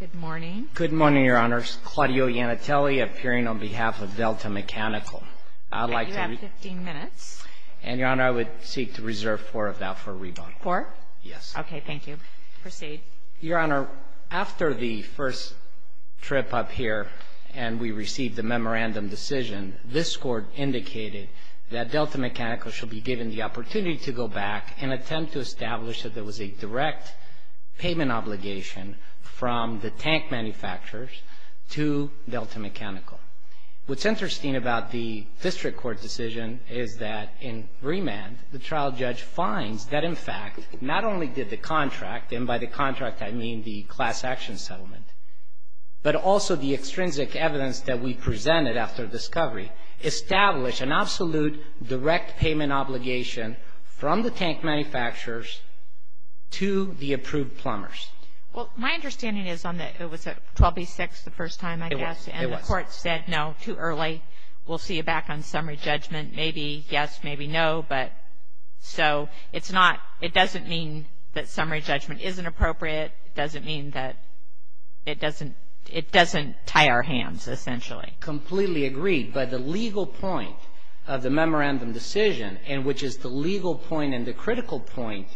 Good morning. Good morning, Your Honor. Claudio Iannitelli appearing on behalf of Delta Mechanical. You have 15 minutes. And, Your Honor, I would seek to reserve four of that for rebuttal. Four? Yes. Okay, thank you. Proceed. Your Honor, after the first trip up here and we received the memorandum decision, this Court indicated that Delta Mechanical should be given the opportunity to go back and attempt to establish that there was a direct payment obligation from the tank manufacturers to Delta Mechanical. What's interesting about the district court decision is that in remand, the trial judge finds that, in fact, not only did the contract, and by the contract I mean the class action settlement, but also the extrinsic evidence that we presented after discovery, establish an absolute direct payment obligation from the tank manufacturers to the approved plumbers. Well, my understanding is on that it was 12B6 the first time, I guess. It was. It was. And the court said, no, too early. We'll see you back on summary judgment. Maybe yes, maybe no, but so it's not, it doesn't mean that summary judgment isn't appropriate. It doesn't mean that, it doesn't, it doesn't tie our hands essentially. Completely agreed. But the legal point of the memorandum decision, and which is the legal point and the critical point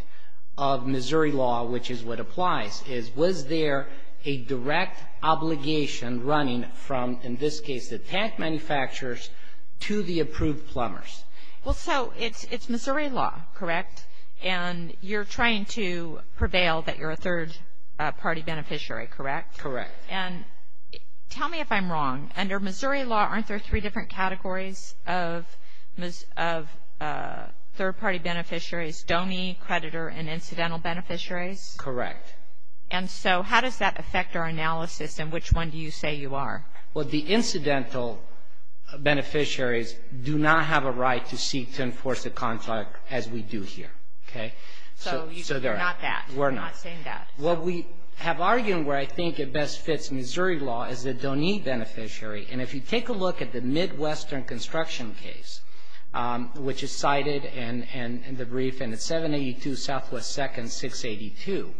of Missouri law, which is what applies, is was there a direct obligation running from, in this case, the tank manufacturers to the approved plumbers? Well, so it's Missouri law, correct? And you're trying to prevail that you're a third-party beneficiary, correct? Correct. And tell me if I'm wrong. Under Missouri law, aren't there three different categories of third-party beneficiaries, donee, creditor, and incidental beneficiaries? Correct. And so how does that affect our analysis, and which one do you say you are? Well, the incidental beneficiaries do not have a right to seek to enforce a contract as we do here, okay? So you're not that. We're not. You're not saying that. What we have argued, and where I think it best fits Missouri law, is the donee beneficiary. And if you take a look at the Midwestern construction case, which is cited in the brief, and it's 782 Southwest 2nd, 682,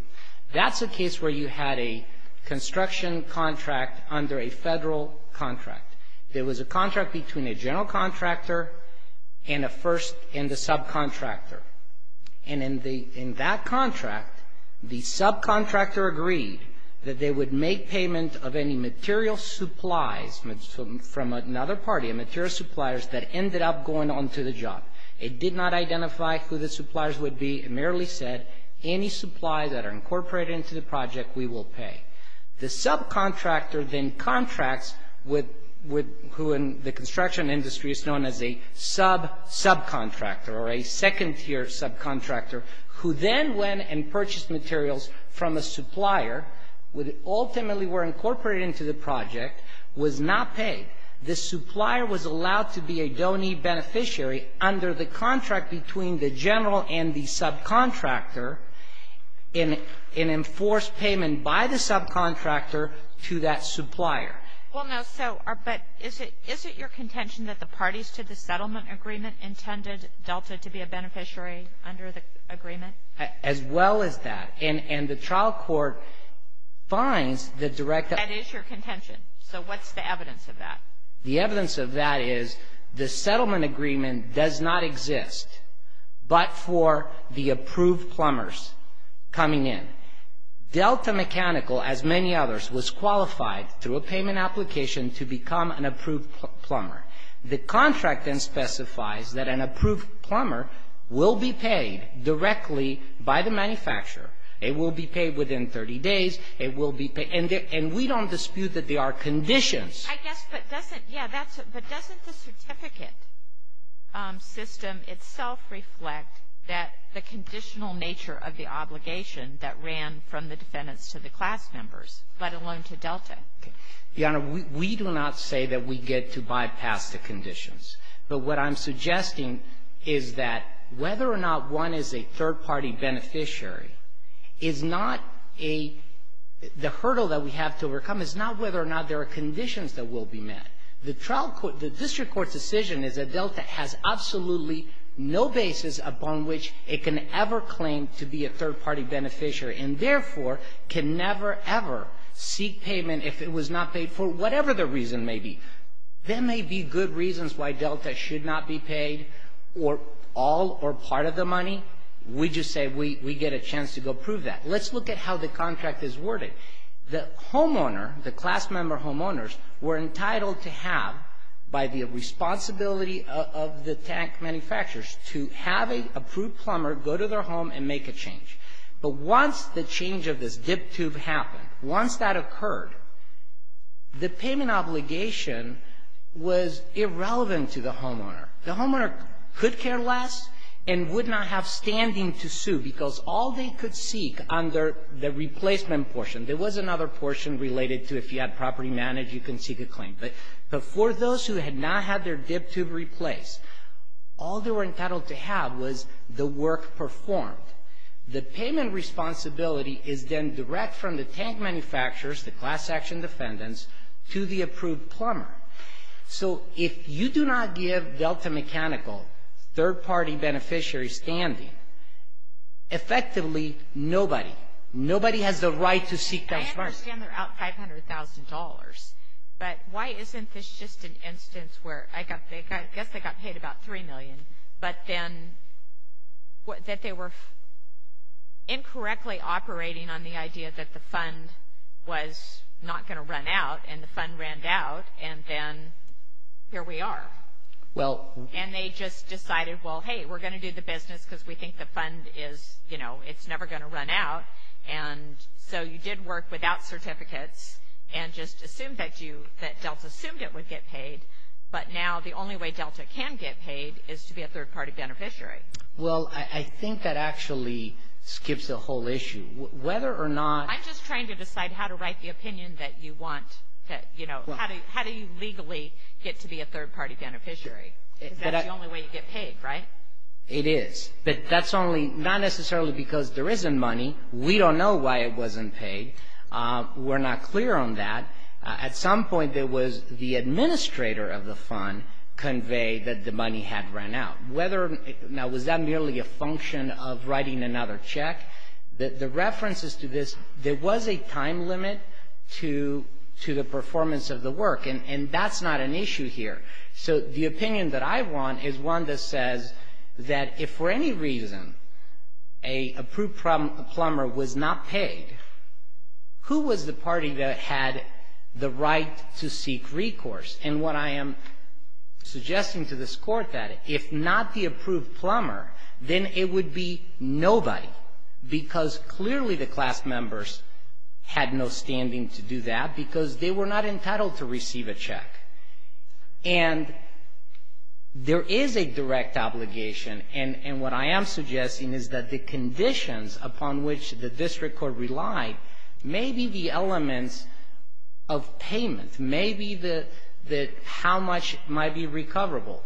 that's a case where you had a construction contract under a federal contract. It was a contract between a general contractor and the subcontractor. And in that contract, the subcontractor agreed that they would make payment of any material supplies from another party, material suppliers, that ended up going on to the job. It did not identify who the suppliers would be. It merely said, any supplies that are incorporated into the project, we will pay. The subcontractor then contracts with who in the construction industry is known as a sub-subcontractor or a second-tier subcontractor, who then went and purchased materials from a supplier, which ultimately were incorporated into the project, was not paid. The supplier was allowed to be a donee beneficiary under the contract between the general and the subcontractor, and enforced payment by the subcontractor to that supplier. Well, now, so, but is it your contention that the parties to the settlement agreement intended Delta to be a beneficiary under the agreement? As well as that. And the trial court finds the direct... That is your contention. So, what's the evidence of that? The evidence of that is the settlement agreement does not exist but for the approved plumbers coming in. Delta Mechanical, as many others, was qualified through a payment application to become an approved plumber. The contract then specifies that an approved plumber will be paid directly by the manufacturer. It will be paid within 30 days. It will be paid, and we don't dispute that there are conditions. I guess, but doesn't, yeah, but doesn't the certificate system itself reflect that the conditional nature of the obligation that ran from the defendants to the class members, let alone to Delta? Your Honor, we do not say that we get to bypass the conditions. But what I'm suggesting is that whether or not one is a third-party beneficiary is not a, the hurdle that we have to overcome is not whether or not there are conditions that will be met. The trial court, the district court's decision is that Delta has absolutely no basis upon which it can ever claim to be a third-party beneficiary and therefore can never ever seek payment if it was not paid for whatever the reason may be. There may be good reasons why Delta should not be paid or all or part of the money. We just say we get a chance to go prove that. Let's look at how the contract is worded. The homeowner, the class member homeowners, were entitled to have, by the responsibility of the tank manufacturers, to have an approved plumber go to their home and make a change. But once the change of this dip tube happened, once that occurred, the payment obligation was irrelevant to the homeowner. The homeowner could care less and would not have standing to sue because all they could seek under the replacement portion, there was another portion related to if you had property managed, you can seek a claim. But for those who had not had their dip tube replaced, all they were entitled to have was the work performed. The payment responsibility is then direct from the tank manufacturers, the class action defendants, to the approved plumber. So if you do not give Delta Mechanical third-party beneficiaries standing, effectively nobody, nobody has the right to seek that part. I understand they're out $500,000, but why isn't this just an instance where, I guess they got paid about $3 million, but then that they were incorrectly operating on the idea that the fund was not going to run out, and the fund ran out, and then here we are. And they just decided, well, hey, we're going to do the business because we think the fund is, you know, it's never going to run out. And so you did work without certificates and just assumed that Delta assumed it would get paid, but now the only way Delta can get paid is to be a third-party beneficiary. Well, I think that actually skips the whole issue. Whether or not... I'm just trying to decide how to write the opinion that you want, that, you know, how do you legally get to be a third-party beneficiary because that's the only way you get paid, right? It is, but that's only, not necessarily because there isn't money. We don't know why it wasn't paid. We're not clear on that. At some point, it was the administrator of the fund conveyed that the money had run out. Now, was that merely a function of writing another check? The reference is to this. There was a time limit to the performance of the work, and that's not an issue here. So the opinion that I want is one that says that if for any reason a approved plumber was not paid, who was the party that had the right to seek recourse? And what I am suggesting to this Court that if not the approved plumber, then it would be nobody because clearly the class members had no standing to do that because they were not entitled to receive a check. And there is a direct obligation, and what I am suggesting is that the conditions upon which the district court relied, maybe the elements of payment, maybe how much might be recoverable,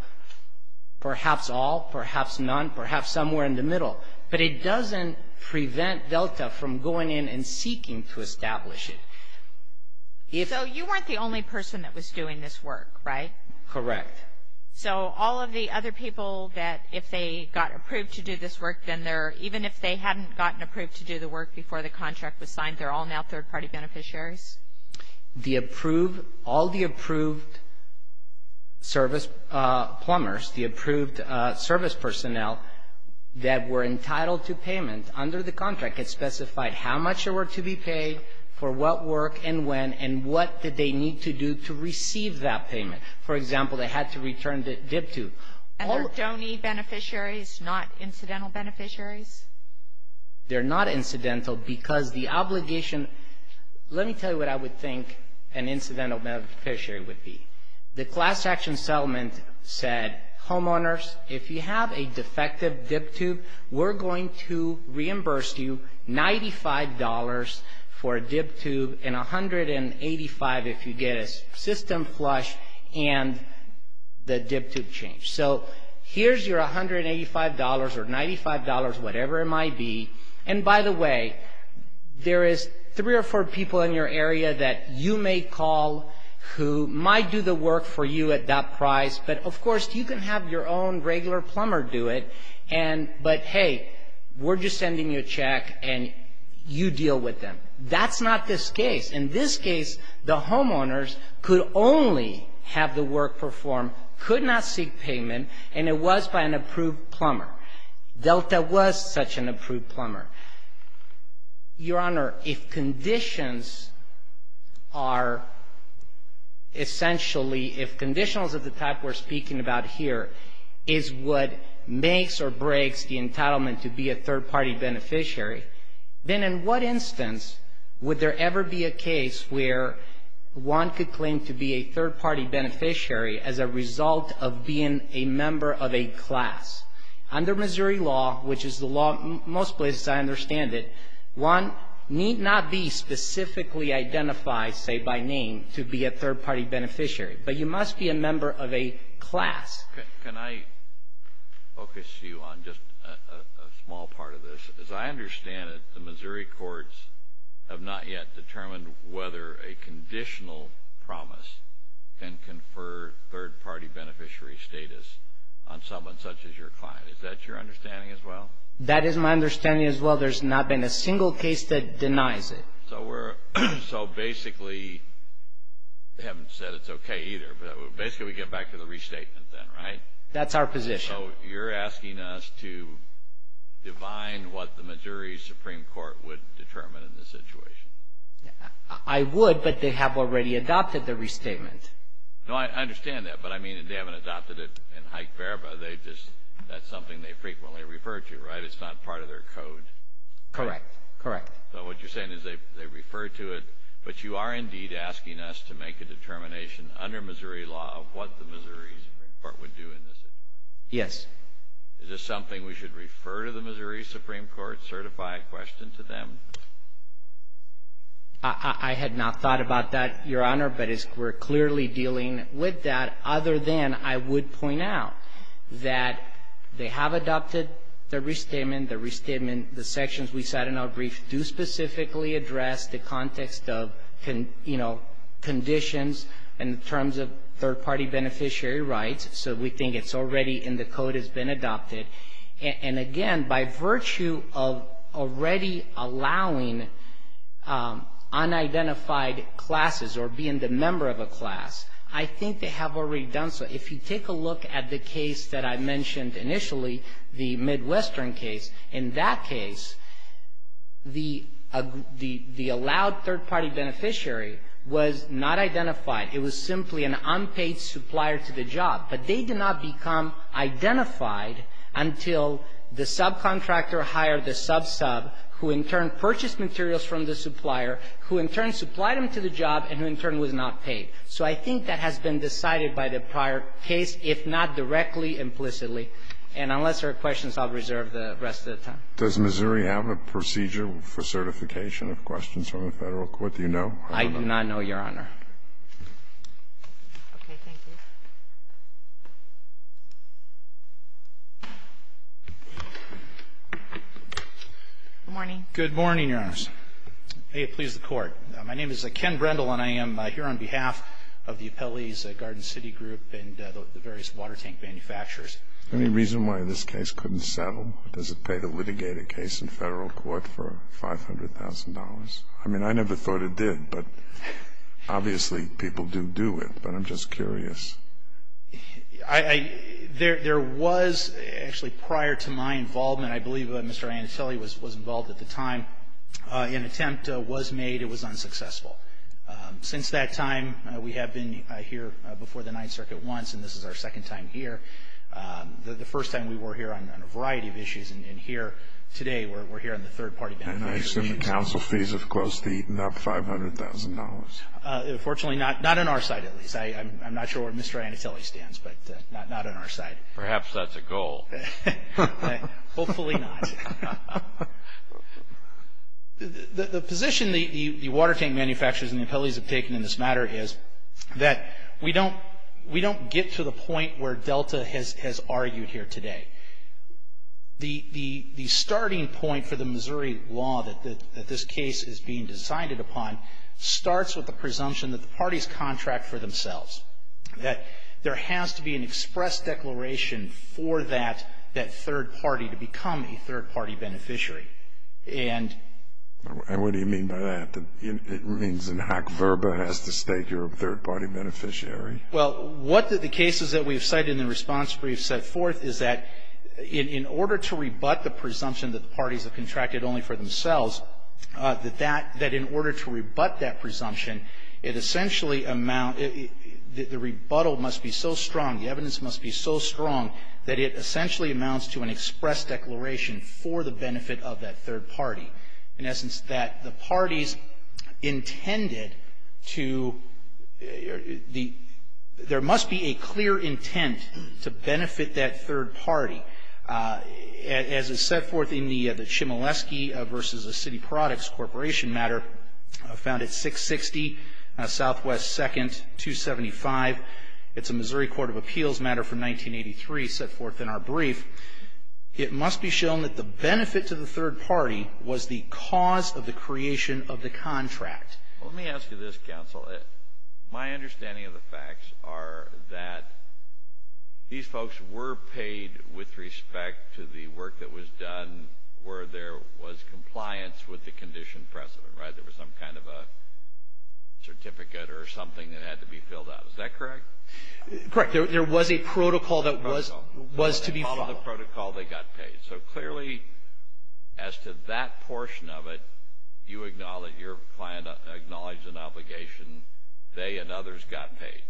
perhaps all, perhaps none, perhaps somewhere in the middle, but it doesn't prevent Delta from going in and seeking to establish it. So you weren't the only person that was doing this work, right? Correct. So all of the other people that if they got approved to do this work, then they're, even if they hadn't gotten approved to do the work before the contract was signed, they're all now third-party beneficiaries? The approved, all the approved service plumbers, the approved service personnel that were entitled to payment under the contract had specified how much they were to be paid, for what work and when, and what did they need to do to receive that payment. For example, they had to return the dip to. And they're donor beneficiaries, not incidental beneficiaries? They're not incidental because the obligation, let me tell you what I would think an incidental beneficiary would be. The class action settlement said, homeowners, if you have a defective dip tube, we're going to reimburse you $95 for a dip tube and $185 if you get a system flush and the dip tube change. So here's your $185 or $95, whatever it might be. And by the way, there is three or four people in your area that you may call who might do the work for you at that price. But, of course, you can have your own regular plumber do it, but, hey, we're just sending you a check and you deal with them. That's not this case. In this case, the homeowners could only have the work performed, could not seek payment, and it was by an approved plumber. Delta was such an approved plumber. Your Honor, if conditions are essentially, if conditionals of the type we're speaking about here is what makes or breaks the entitlement to be a third-party beneficiary, then in what instance would there ever be a case where one could claim to be a third-party beneficiary as a result of being a member of a class? Under Missouri law, which is the law in most places I understand it, one need not be specifically identified, say by name, to be a third-party beneficiary, but you must be a member of a class. Can I focus you on just a small part of this? As I understand it, the Missouri courts have not yet determined whether a conditional promise can confer third-party beneficiary status on someone such as your client. Is that your understanding as well? That is my understanding as well. There's not been a single case that denies it. So basically, they haven't said it's okay either, but basically we get back to the restatement then, right? That's our position. So you're asking us to divine what the Missouri Supreme Court would determine in this situation? I would, but they have already adopted the restatement. No, I understand that, but I mean they haven't adopted it in Hike-Verba. That's something they frequently refer to, right? It's not part of their code. Correct. Correct. So what you're saying is they refer to it, but you are indeed asking us to make a determination under Missouri law of what the Missouri Supreme Court would do in this situation? Yes. Is this something we should refer to the Missouri Supreme Court, certify a question to them? I had not thought about that, Your Honor, but we're clearly dealing with that, other than I would point out that they have adopted the restatement. The restatement, the sections we cite in our brief do specifically address the context of conditions in terms of third-party beneficiary rights. So we think it's already in the code, it's been adopted. And again, by virtue of already allowing unidentified classes or being the member of a class, I think they have already done so. If you take a look at the case that I mentioned initially, the Midwestern case, in that case the allowed third-party beneficiary was not identified. It was simply an unpaid supplier to the job. But they did not become identified until the subcontractor hired the sub-sub, who in turn purchased materials from the supplier, who in turn supplied them to the job, and who in turn was not paid. So I think that has been decided by the prior case, if not directly, implicitly. And unless there are questions, I'll reserve the rest of the time. Does Missouri have a procedure for certification of questions from the Federal Court, do you know? I do not know, Your Honor. Okay. Thank you. Good morning. Good morning, Your Honors. May it please the Court. My name is Ken Brendel, and I am here on behalf of the Appellee's Garden City Group and the various water tank manufacturers. Any reason why this case couldn't settle? Does it pay the litigator case in Federal Court for $500,000? I mean, I never thought it did, but obviously people do do it. But I'm just curious. There was actually prior to my involvement, I believe Mr. Anatelli was involved at the time, an attempt was made. It was unsuccessful. Since that time, we have been here before the Ninth Circuit once, and this is our second time here. The first time we were here on a variety of issues, and here today we're here on the third-party benefits. And I assume the counsel fees have close to eaten up $500,000. Unfortunately, not on our side, at least. I'm not sure where Mr. Anatelli stands, but not on our side. Perhaps that's a goal. Hopefully not. The position the water tank manufacturers and the appellees have taken in this matter is that we don't get to the point where Delta has argued here today. The starting point for the Missouri law that this case is being decided upon starts with the presumption that the parties contract for themselves, that there has to be an express declaration for that third party to become a third-party beneficiary. And what do you mean by that? It means that HAC VRBA has to state you're a third-party beneficiary? Well, what the cases that we've cited in the response brief set forth is that in order to rebut the presumption that the parties have contracted only for themselves, that in order to rebut that presumption, it essentially amounts, the rebuttal must be so strong, the evidence must be so strong, that it essentially amounts to an express declaration for the benefit of that third party. In essence, that the parties intended to, there must be a clear intent to benefit that third party. As is set forth in the Chmielewski v. City Products Corporation matter found at 660 Southwest 2nd, 275. It's a Missouri Court of Appeals matter from 1983 set forth in our brief. It must be shown that the benefit to the third party was the cause of the creation of the contract. Well, let me ask you this, counsel. My understanding of the facts are that these folks were paid with respect to the work that was done where there was compliance with the condition precedent, right? There was some kind of a certificate or something that had to be filled out. Is that correct? Correct. There was a protocol that was to be followed. The protocol they got paid. So clearly, as to that portion of it, you acknowledge, your client acknowledged an obligation. They and others got paid.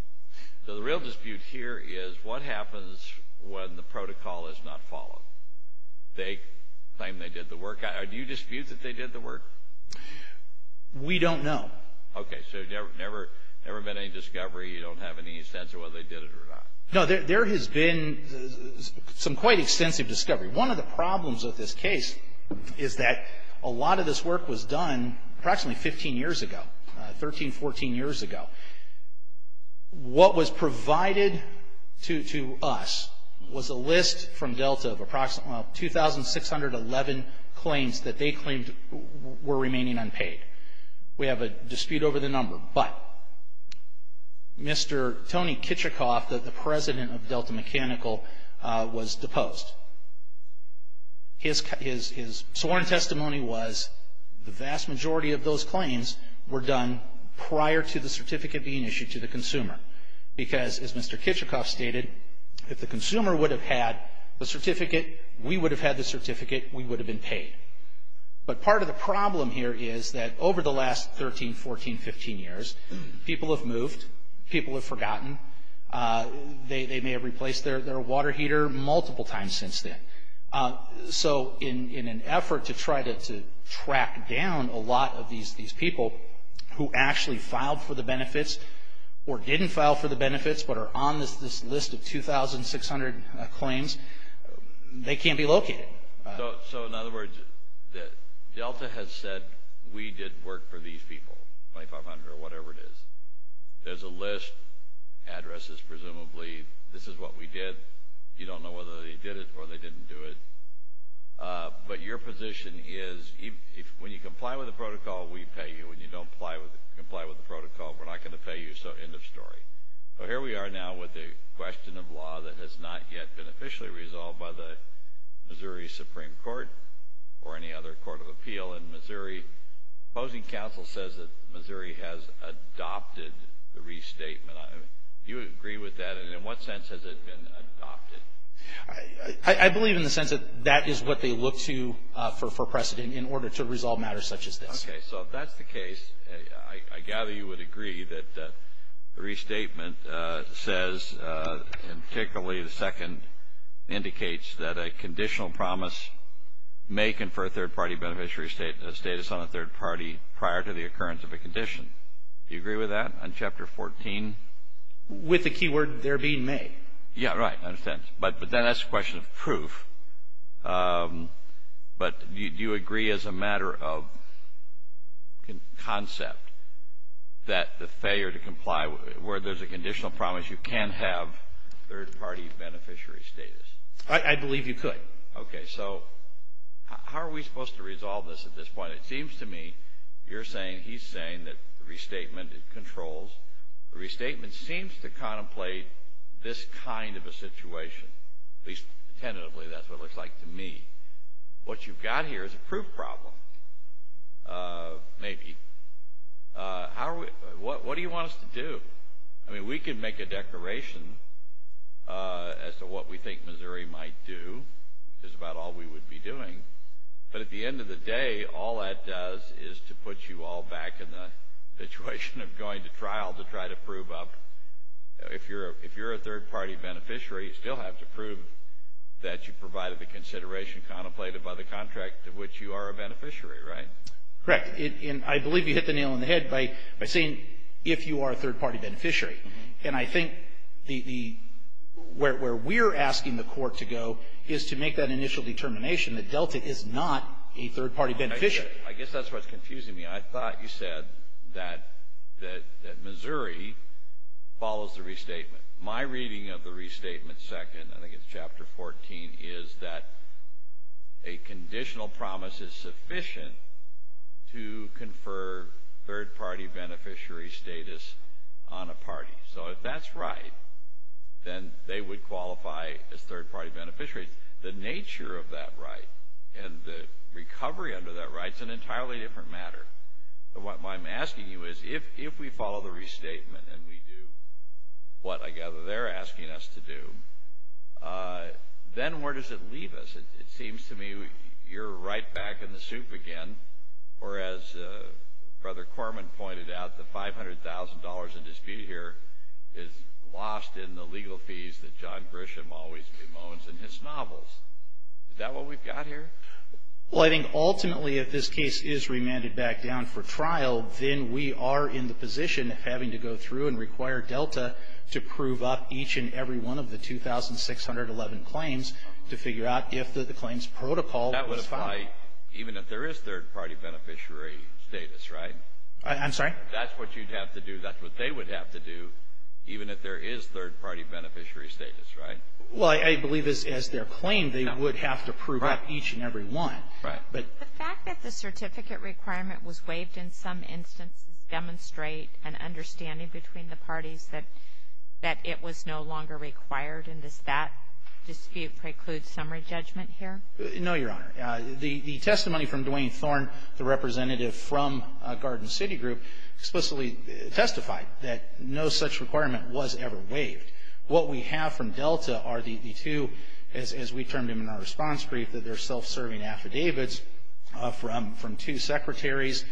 So the real dispute here is what happens when the protocol is not followed? They claim they did the work. Do you dispute that they did the work? We don't know. Okay. So never been any discovery. You don't have any sense of whether they did it or not? No. There has been some quite extensive discovery. One of the problems with this case is that a lot of this work was done approximately 15 years ago, 13, 14 years ago. What was provided to us was a list from Delta of approximately 2,611 claims that they claimed were remaining unpaid. We have a dispute over the number. But Mr. Tony Kitchikoff, the president of Delta Mechanical, was deposed. His sworn testimony was the vast majority of those claims were done prior to the certificate being issued to the consumer. Because, as Mr. Kitchikoff stated, if the consumer would have had the certificate, we would have had the certificate, we would have been paid. But part of the problem here is that over the last 13, 14, 15 years, people have moved, people have forgotten. They may have replaced their water heater multiple times since then. So in an effort to try to track down a lot of these people who actually filed for the benefits or didn't file for the benefits but are on this list of 2,600 claims, they can't be located. So in other words, Delta has said, we did work for these people, 2,500 or whatever it is. There's a list, addresses presumably, this is what we did. You don't know whether they did it or they didn't do it. But your position is, when you comply with the protocol, we pay you. When you don't comply with the protocol, we're not going to pay you. So end of story. Here we are now with a question of law that has not yet been officially resolved by the Missouri Supreme Court or any other court of appeal in Missouri. Opposing counsel says that Missouri has adopted the restatement. Do you agree with that? And in what sense has it been adopted? I believe in the sense that that is what they look to for precedent in order to resolve matters such as this. Okay. So if that's the case, I gather you would agree that the restatement says and particularly the second indicates that a conditional promise may confer a third-party beneficiary status on a third party prior to the occurrence of a condition. Do you agree with that on Chapter 14? With the keyword there being may. Yeah, right. I understand. But then that's a question of proof. But do you agree as a matter of concept that the failure to comply where there's a conditional promise you can have third-party beneficiary status? I believe you could. Okay. So how are we supposed to resolve this at this point? It seems to me you're saying he's saying that the restatement controls. The restatement seems to contemplate this kind of a situation. At least tentatively that's what it looks like to me. What you've got here is a proof problem. Maybe. What do you want us to do? I mean, we can make a declaration as to what we think Missouri might do. It's about all we would be doing. But at the end of the day, all that does is to put you all back in the situation of going to trial to try to prove up. If you're a third-party beneficiary, you still have to prove that you provided the consideration contemplated by the contract to which you are a beneficiary, right? Correct. And I believe you hit the nail on the head by saying if you are a third-party beneficiary. And I think where we're asking the court to go is to make that initial determination that Delta is not a third-party beneficiary. I guess that's what's confusing me. I thought you said that Missouri follows the restatement. My reading of the restatement second, I think it's Chapter 14, is that a conditional promise is sufficient to confer third-party beneficiary status on a party. So if that's right, then they would qualify as third-party beneficiaries. The nature of that right and the recovery under that right is an entirely different matter. What I'm asking you is if we follow the restatement and we do what I gather they're asking us to do, then where does it leave us? It seems to me you're right back in the soup again. Or as Brother Corman pointed out, the $500,000 in dispute here is lost in the legal fees that John Grisham always bemoans in his novels. Is that what we've got here? Well, I think ultimately if this case is remanded back down for trial, then we are in the position of having to go through and require Delta to prove up each and every one of the 2,611 claims to figure out if the claims protocol was followed. That would apply even if there is third-party beneficiary status, right? I'm sorry? That's what you'd have to do. That's what they would have to do even if there is third-party beneficiary status, right? Well, I believe as their claim they would have to prove up each and every one. Right. The fact that the certificate requirement was waived in some instances demonstrate an understanding between the parties that it was no longer required, and does that dispute preclude summary judgment here? No, Your Honor. The testimony from Duane Thorne, the representative from Garden City Group, explicitly testified that no such requirement was ever waived. What we have from Delta are the two, as we termed them in our response brief, that they're self-serving affidavits from two secretaries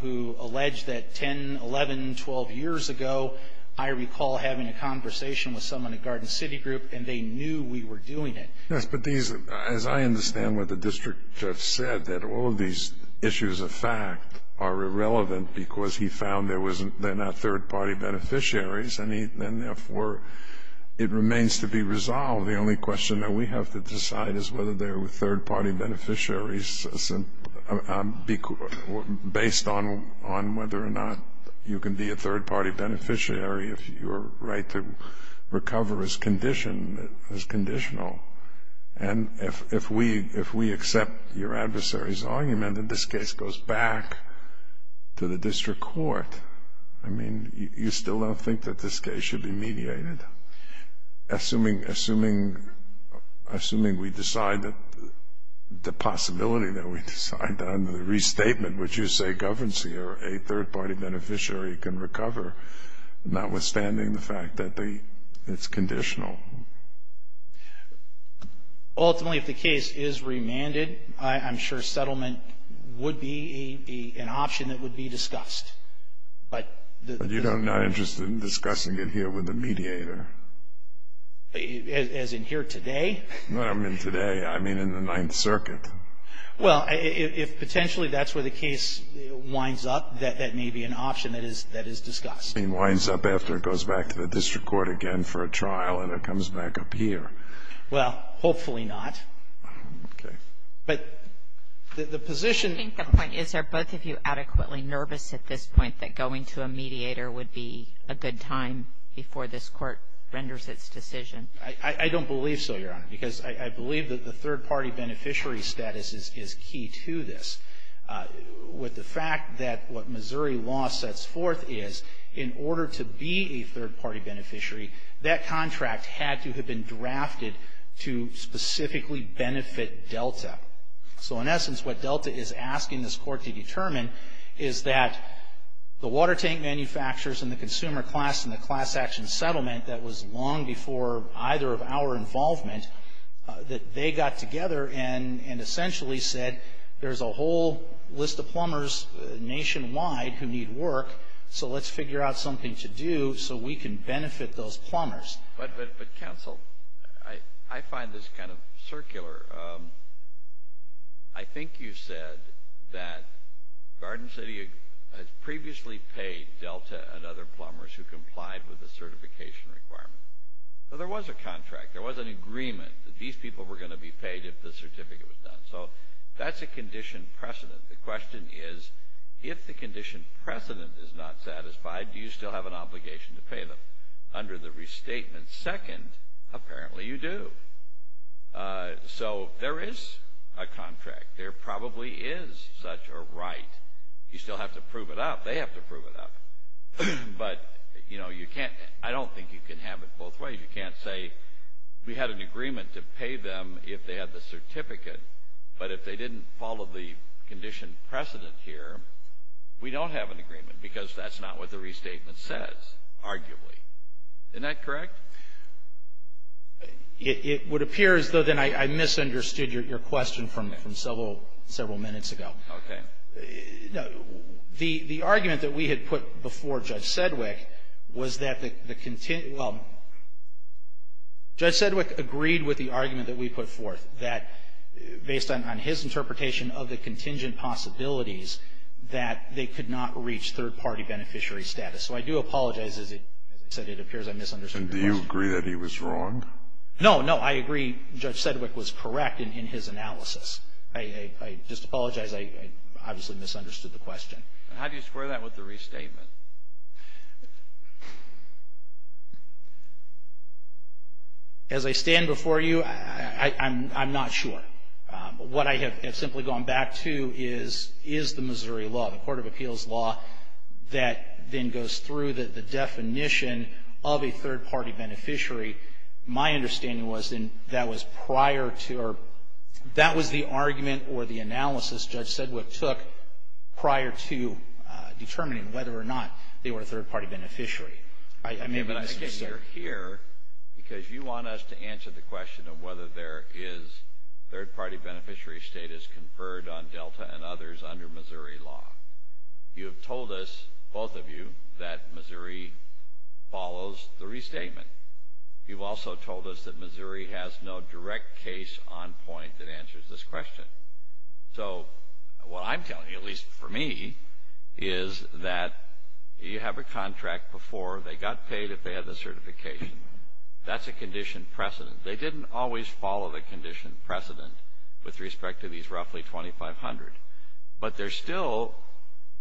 who allege that 10, 11, 12 years ago, I recall having a conversation with someone at Garden City Group, and they knew we were doing it. Yes, but these, as I understand what the district judge said, that all of these issues of fact are irrelevant because he found they're not third-party beneficiaries, and therefore it remains to be resolved. The only question that we have to decide is whether they're third-party beneficiaries based on whether or not you can be a third-party beneficiary if your right to recover is conditional. And if we accept your adversary's argument and this case goes back to the district court, I mean, you still don't think that this case should be mediated? Assuming we decide that the possibility that we decide under the restatement, would you say governancy or a third-party beneficiary can recover, notwithstanding the fact that it's conditional? Ultimately, if the case is remanded, I'm sure settlement would be an option that would be discussed. But you're not interested in discussing it here with the mediator? As in here today? No, I mean today. I mean in the Ninth Circuit. Well, if potentially that's where the case winds up, that may be an option that is discussed. It winds up after it goes back to the district court again for a trial and it comes back up here. Well, hopefully not. Okay. But the position — I think the point is are both of you adequately nervous at this point that going to a mediator would be a good time before this Court renders its decision? I don't believe so, Your Honor. Because I believe that the third-party beneficiary status is key to this. With the fact that what Missouri law sets forth is in order to be a third-party beneficiary, that contract had to have been drafted to specifically benefit Delta. So, in essence, what Delta is asking this Court to determine is that the water tank manufacturers and the consumer class and the class action settlement that was long before either of our involvement, that they got together and essentially said there's a whole list of plumbers nationwide who need work, so let's figure out something to do so we can benefit those plumbers. But, counsel, I find this kind of circular. I think you said that Garden City had previously paid Delta and other plumbers who complied with the certification requirement. So there was a contract. There was an agreement that these people were going to be paid if the certificate was done. So that's a condition precedent. The question is, if the condition precedent is not satisfied, do you still have an obligation to pay them? Under the restatement second, apparently you do. So there is a contract. There probably is such a right. You still have to prove it up. They have to prove it up. But, you know, I don't think you can have it both ways. You can't say we had an agreement to pay them if they had the certificate, but if they didn't follow the condition precedent here, we don't have an agreement because that's not what the restatement says, arguably. Isn't that correct? It would appear as though then I misunderstood your question from several minutes ago. Okay. No. The argument that we had put before Judge Sedgwick was that the – well, Judge Sedgwick agreed with the argument that we put forth, that based on his interpretation of the contingent possibilities, that they could not reach third-party beneficiary status. As I said, it appears I misunderstood your question. Do you agree that he was wrong? No, no. I agree Judge Sedgwick was correct in his analysis. I just apologize. I obviously misunderstood the question. How do you square that with the restatement? As I stand before you, I'm not sure. What I have simply gone back to is the Missouri law, the Court of Appeals law, that then goes through the definition of a third-party beneficiary. My understanding was that was prior to – or that was the argument or the analysis Judge Sedgwick took prior to determining whether or not they were a third-party beneficiary. I may have misunderstood. Okay, but I guess you're here because you want us to answer the question of whether there is third-party beneficiary status conferred on Delta and others under Missouri law. You have told us, both of you, that Missouri follows the restatement. You've also told us that Missouri has no direct case on point that answers this question. So what I'm telling you, at least for me, is that you have a contract before. They got paid if they had the certification. That's a condition precedent. They didn't always follow the condition precedent with respect to these roughly 2,500. But there's still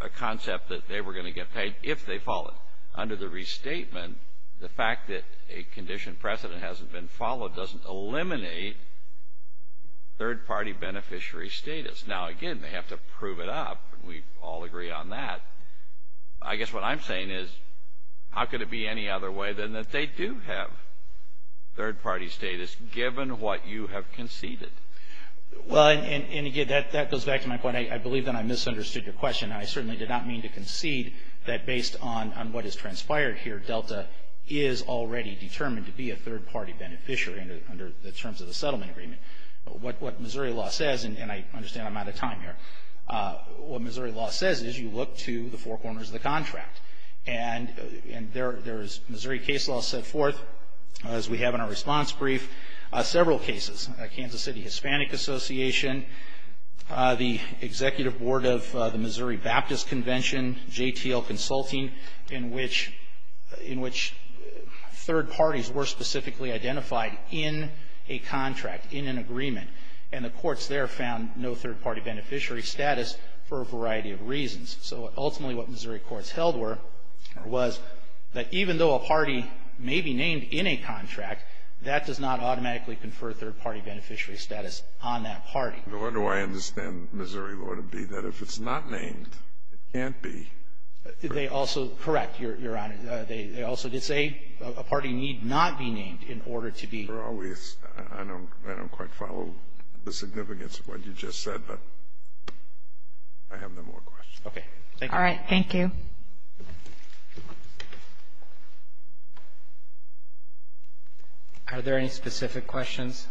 a concept that they were going to get paid if they followed. Under the restatement, the fact that a condition precedent hasn't been followed doesn't eliminate third-party beneficiary status. Now, again, they have to prove it up, and we all agree on that. I guess what I'm saying is how could it be any other way than that they do have third-party status given what you have conceded? Well, and again, that goes back to my point. I believe that I misunderstood your question. I certainly did not mean to concede that based on what has transpired here, Delta is already determined to be a third-party beneficiary under the terms of the settlement agreement. What Missouri law says, and I understand I'm out of time here, what Missouri law says is you look to the four corners of the contract. And there is Missouri case law set forth, as we have in our response brief, several cases. Kansas City Hispanic Association, the Executive Board of the Missouri Baptist Convention, JTL Consulting, in which third parties were specifically identified in a contract, in an agreement. And the courts there found no third-party beneficiary status for a variety of reasons. So ultimately what Missouri courts held was that even though a party may be named in a contract, that does not automatically confer third-party beneficiary status on that party. The way I understand Missouri law to be that if it's not named, it can't be. They also, correct, Your Honor. They also did say a party need not be named in order to be. I don't quite follow the significance of what you just said, but I have no more questions. Okay. Thank you. Thank you. Are there any specific questions?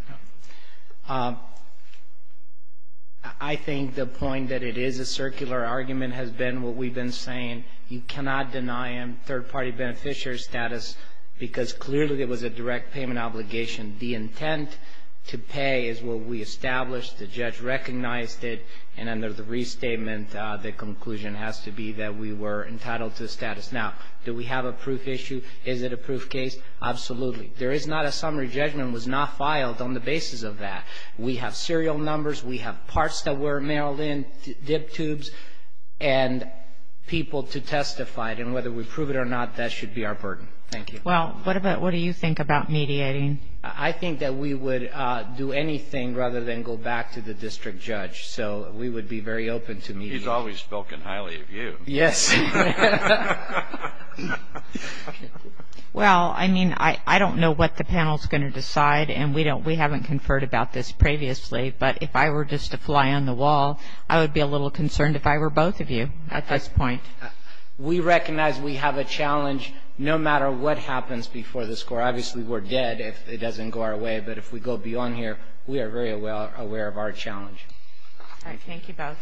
I think the point that it is a circular argument has been what we've been saying. You cannot deny a third-party beneficiary status because clearly there was a direct payment obligation. The intent to pay is what we established. The judge recognized it. And under the restatement, the conclusion has to be that we were entitled to the status. Now, do we have a proof issue? Is it a proof case? Absolutely. There is not a summary judgment was not filed on the basis of that. We have serial numbers. We have parts that were mailed in, dip tubes, and people to testify. And whether we prove it or not, that should be our burden. Thank you. Well, what do you think about mediating? I think that we would do anything rather than go back to the district judge. So we would be very open to mediating. He's always spoken highly of you. Yes. Well, I mean, I don't know what the panel is going to decide. And we haven't conferred about this previously. But if I were just to fly on the wall, I would be a little concerned if I were both of you at this point. We recognize we have a challenge no matter what happens before the score. Obviously, we're dead if it doesn't go our way. But if we go beyond here, we are very aware of our challenge. All right. Thank you both. Thank you.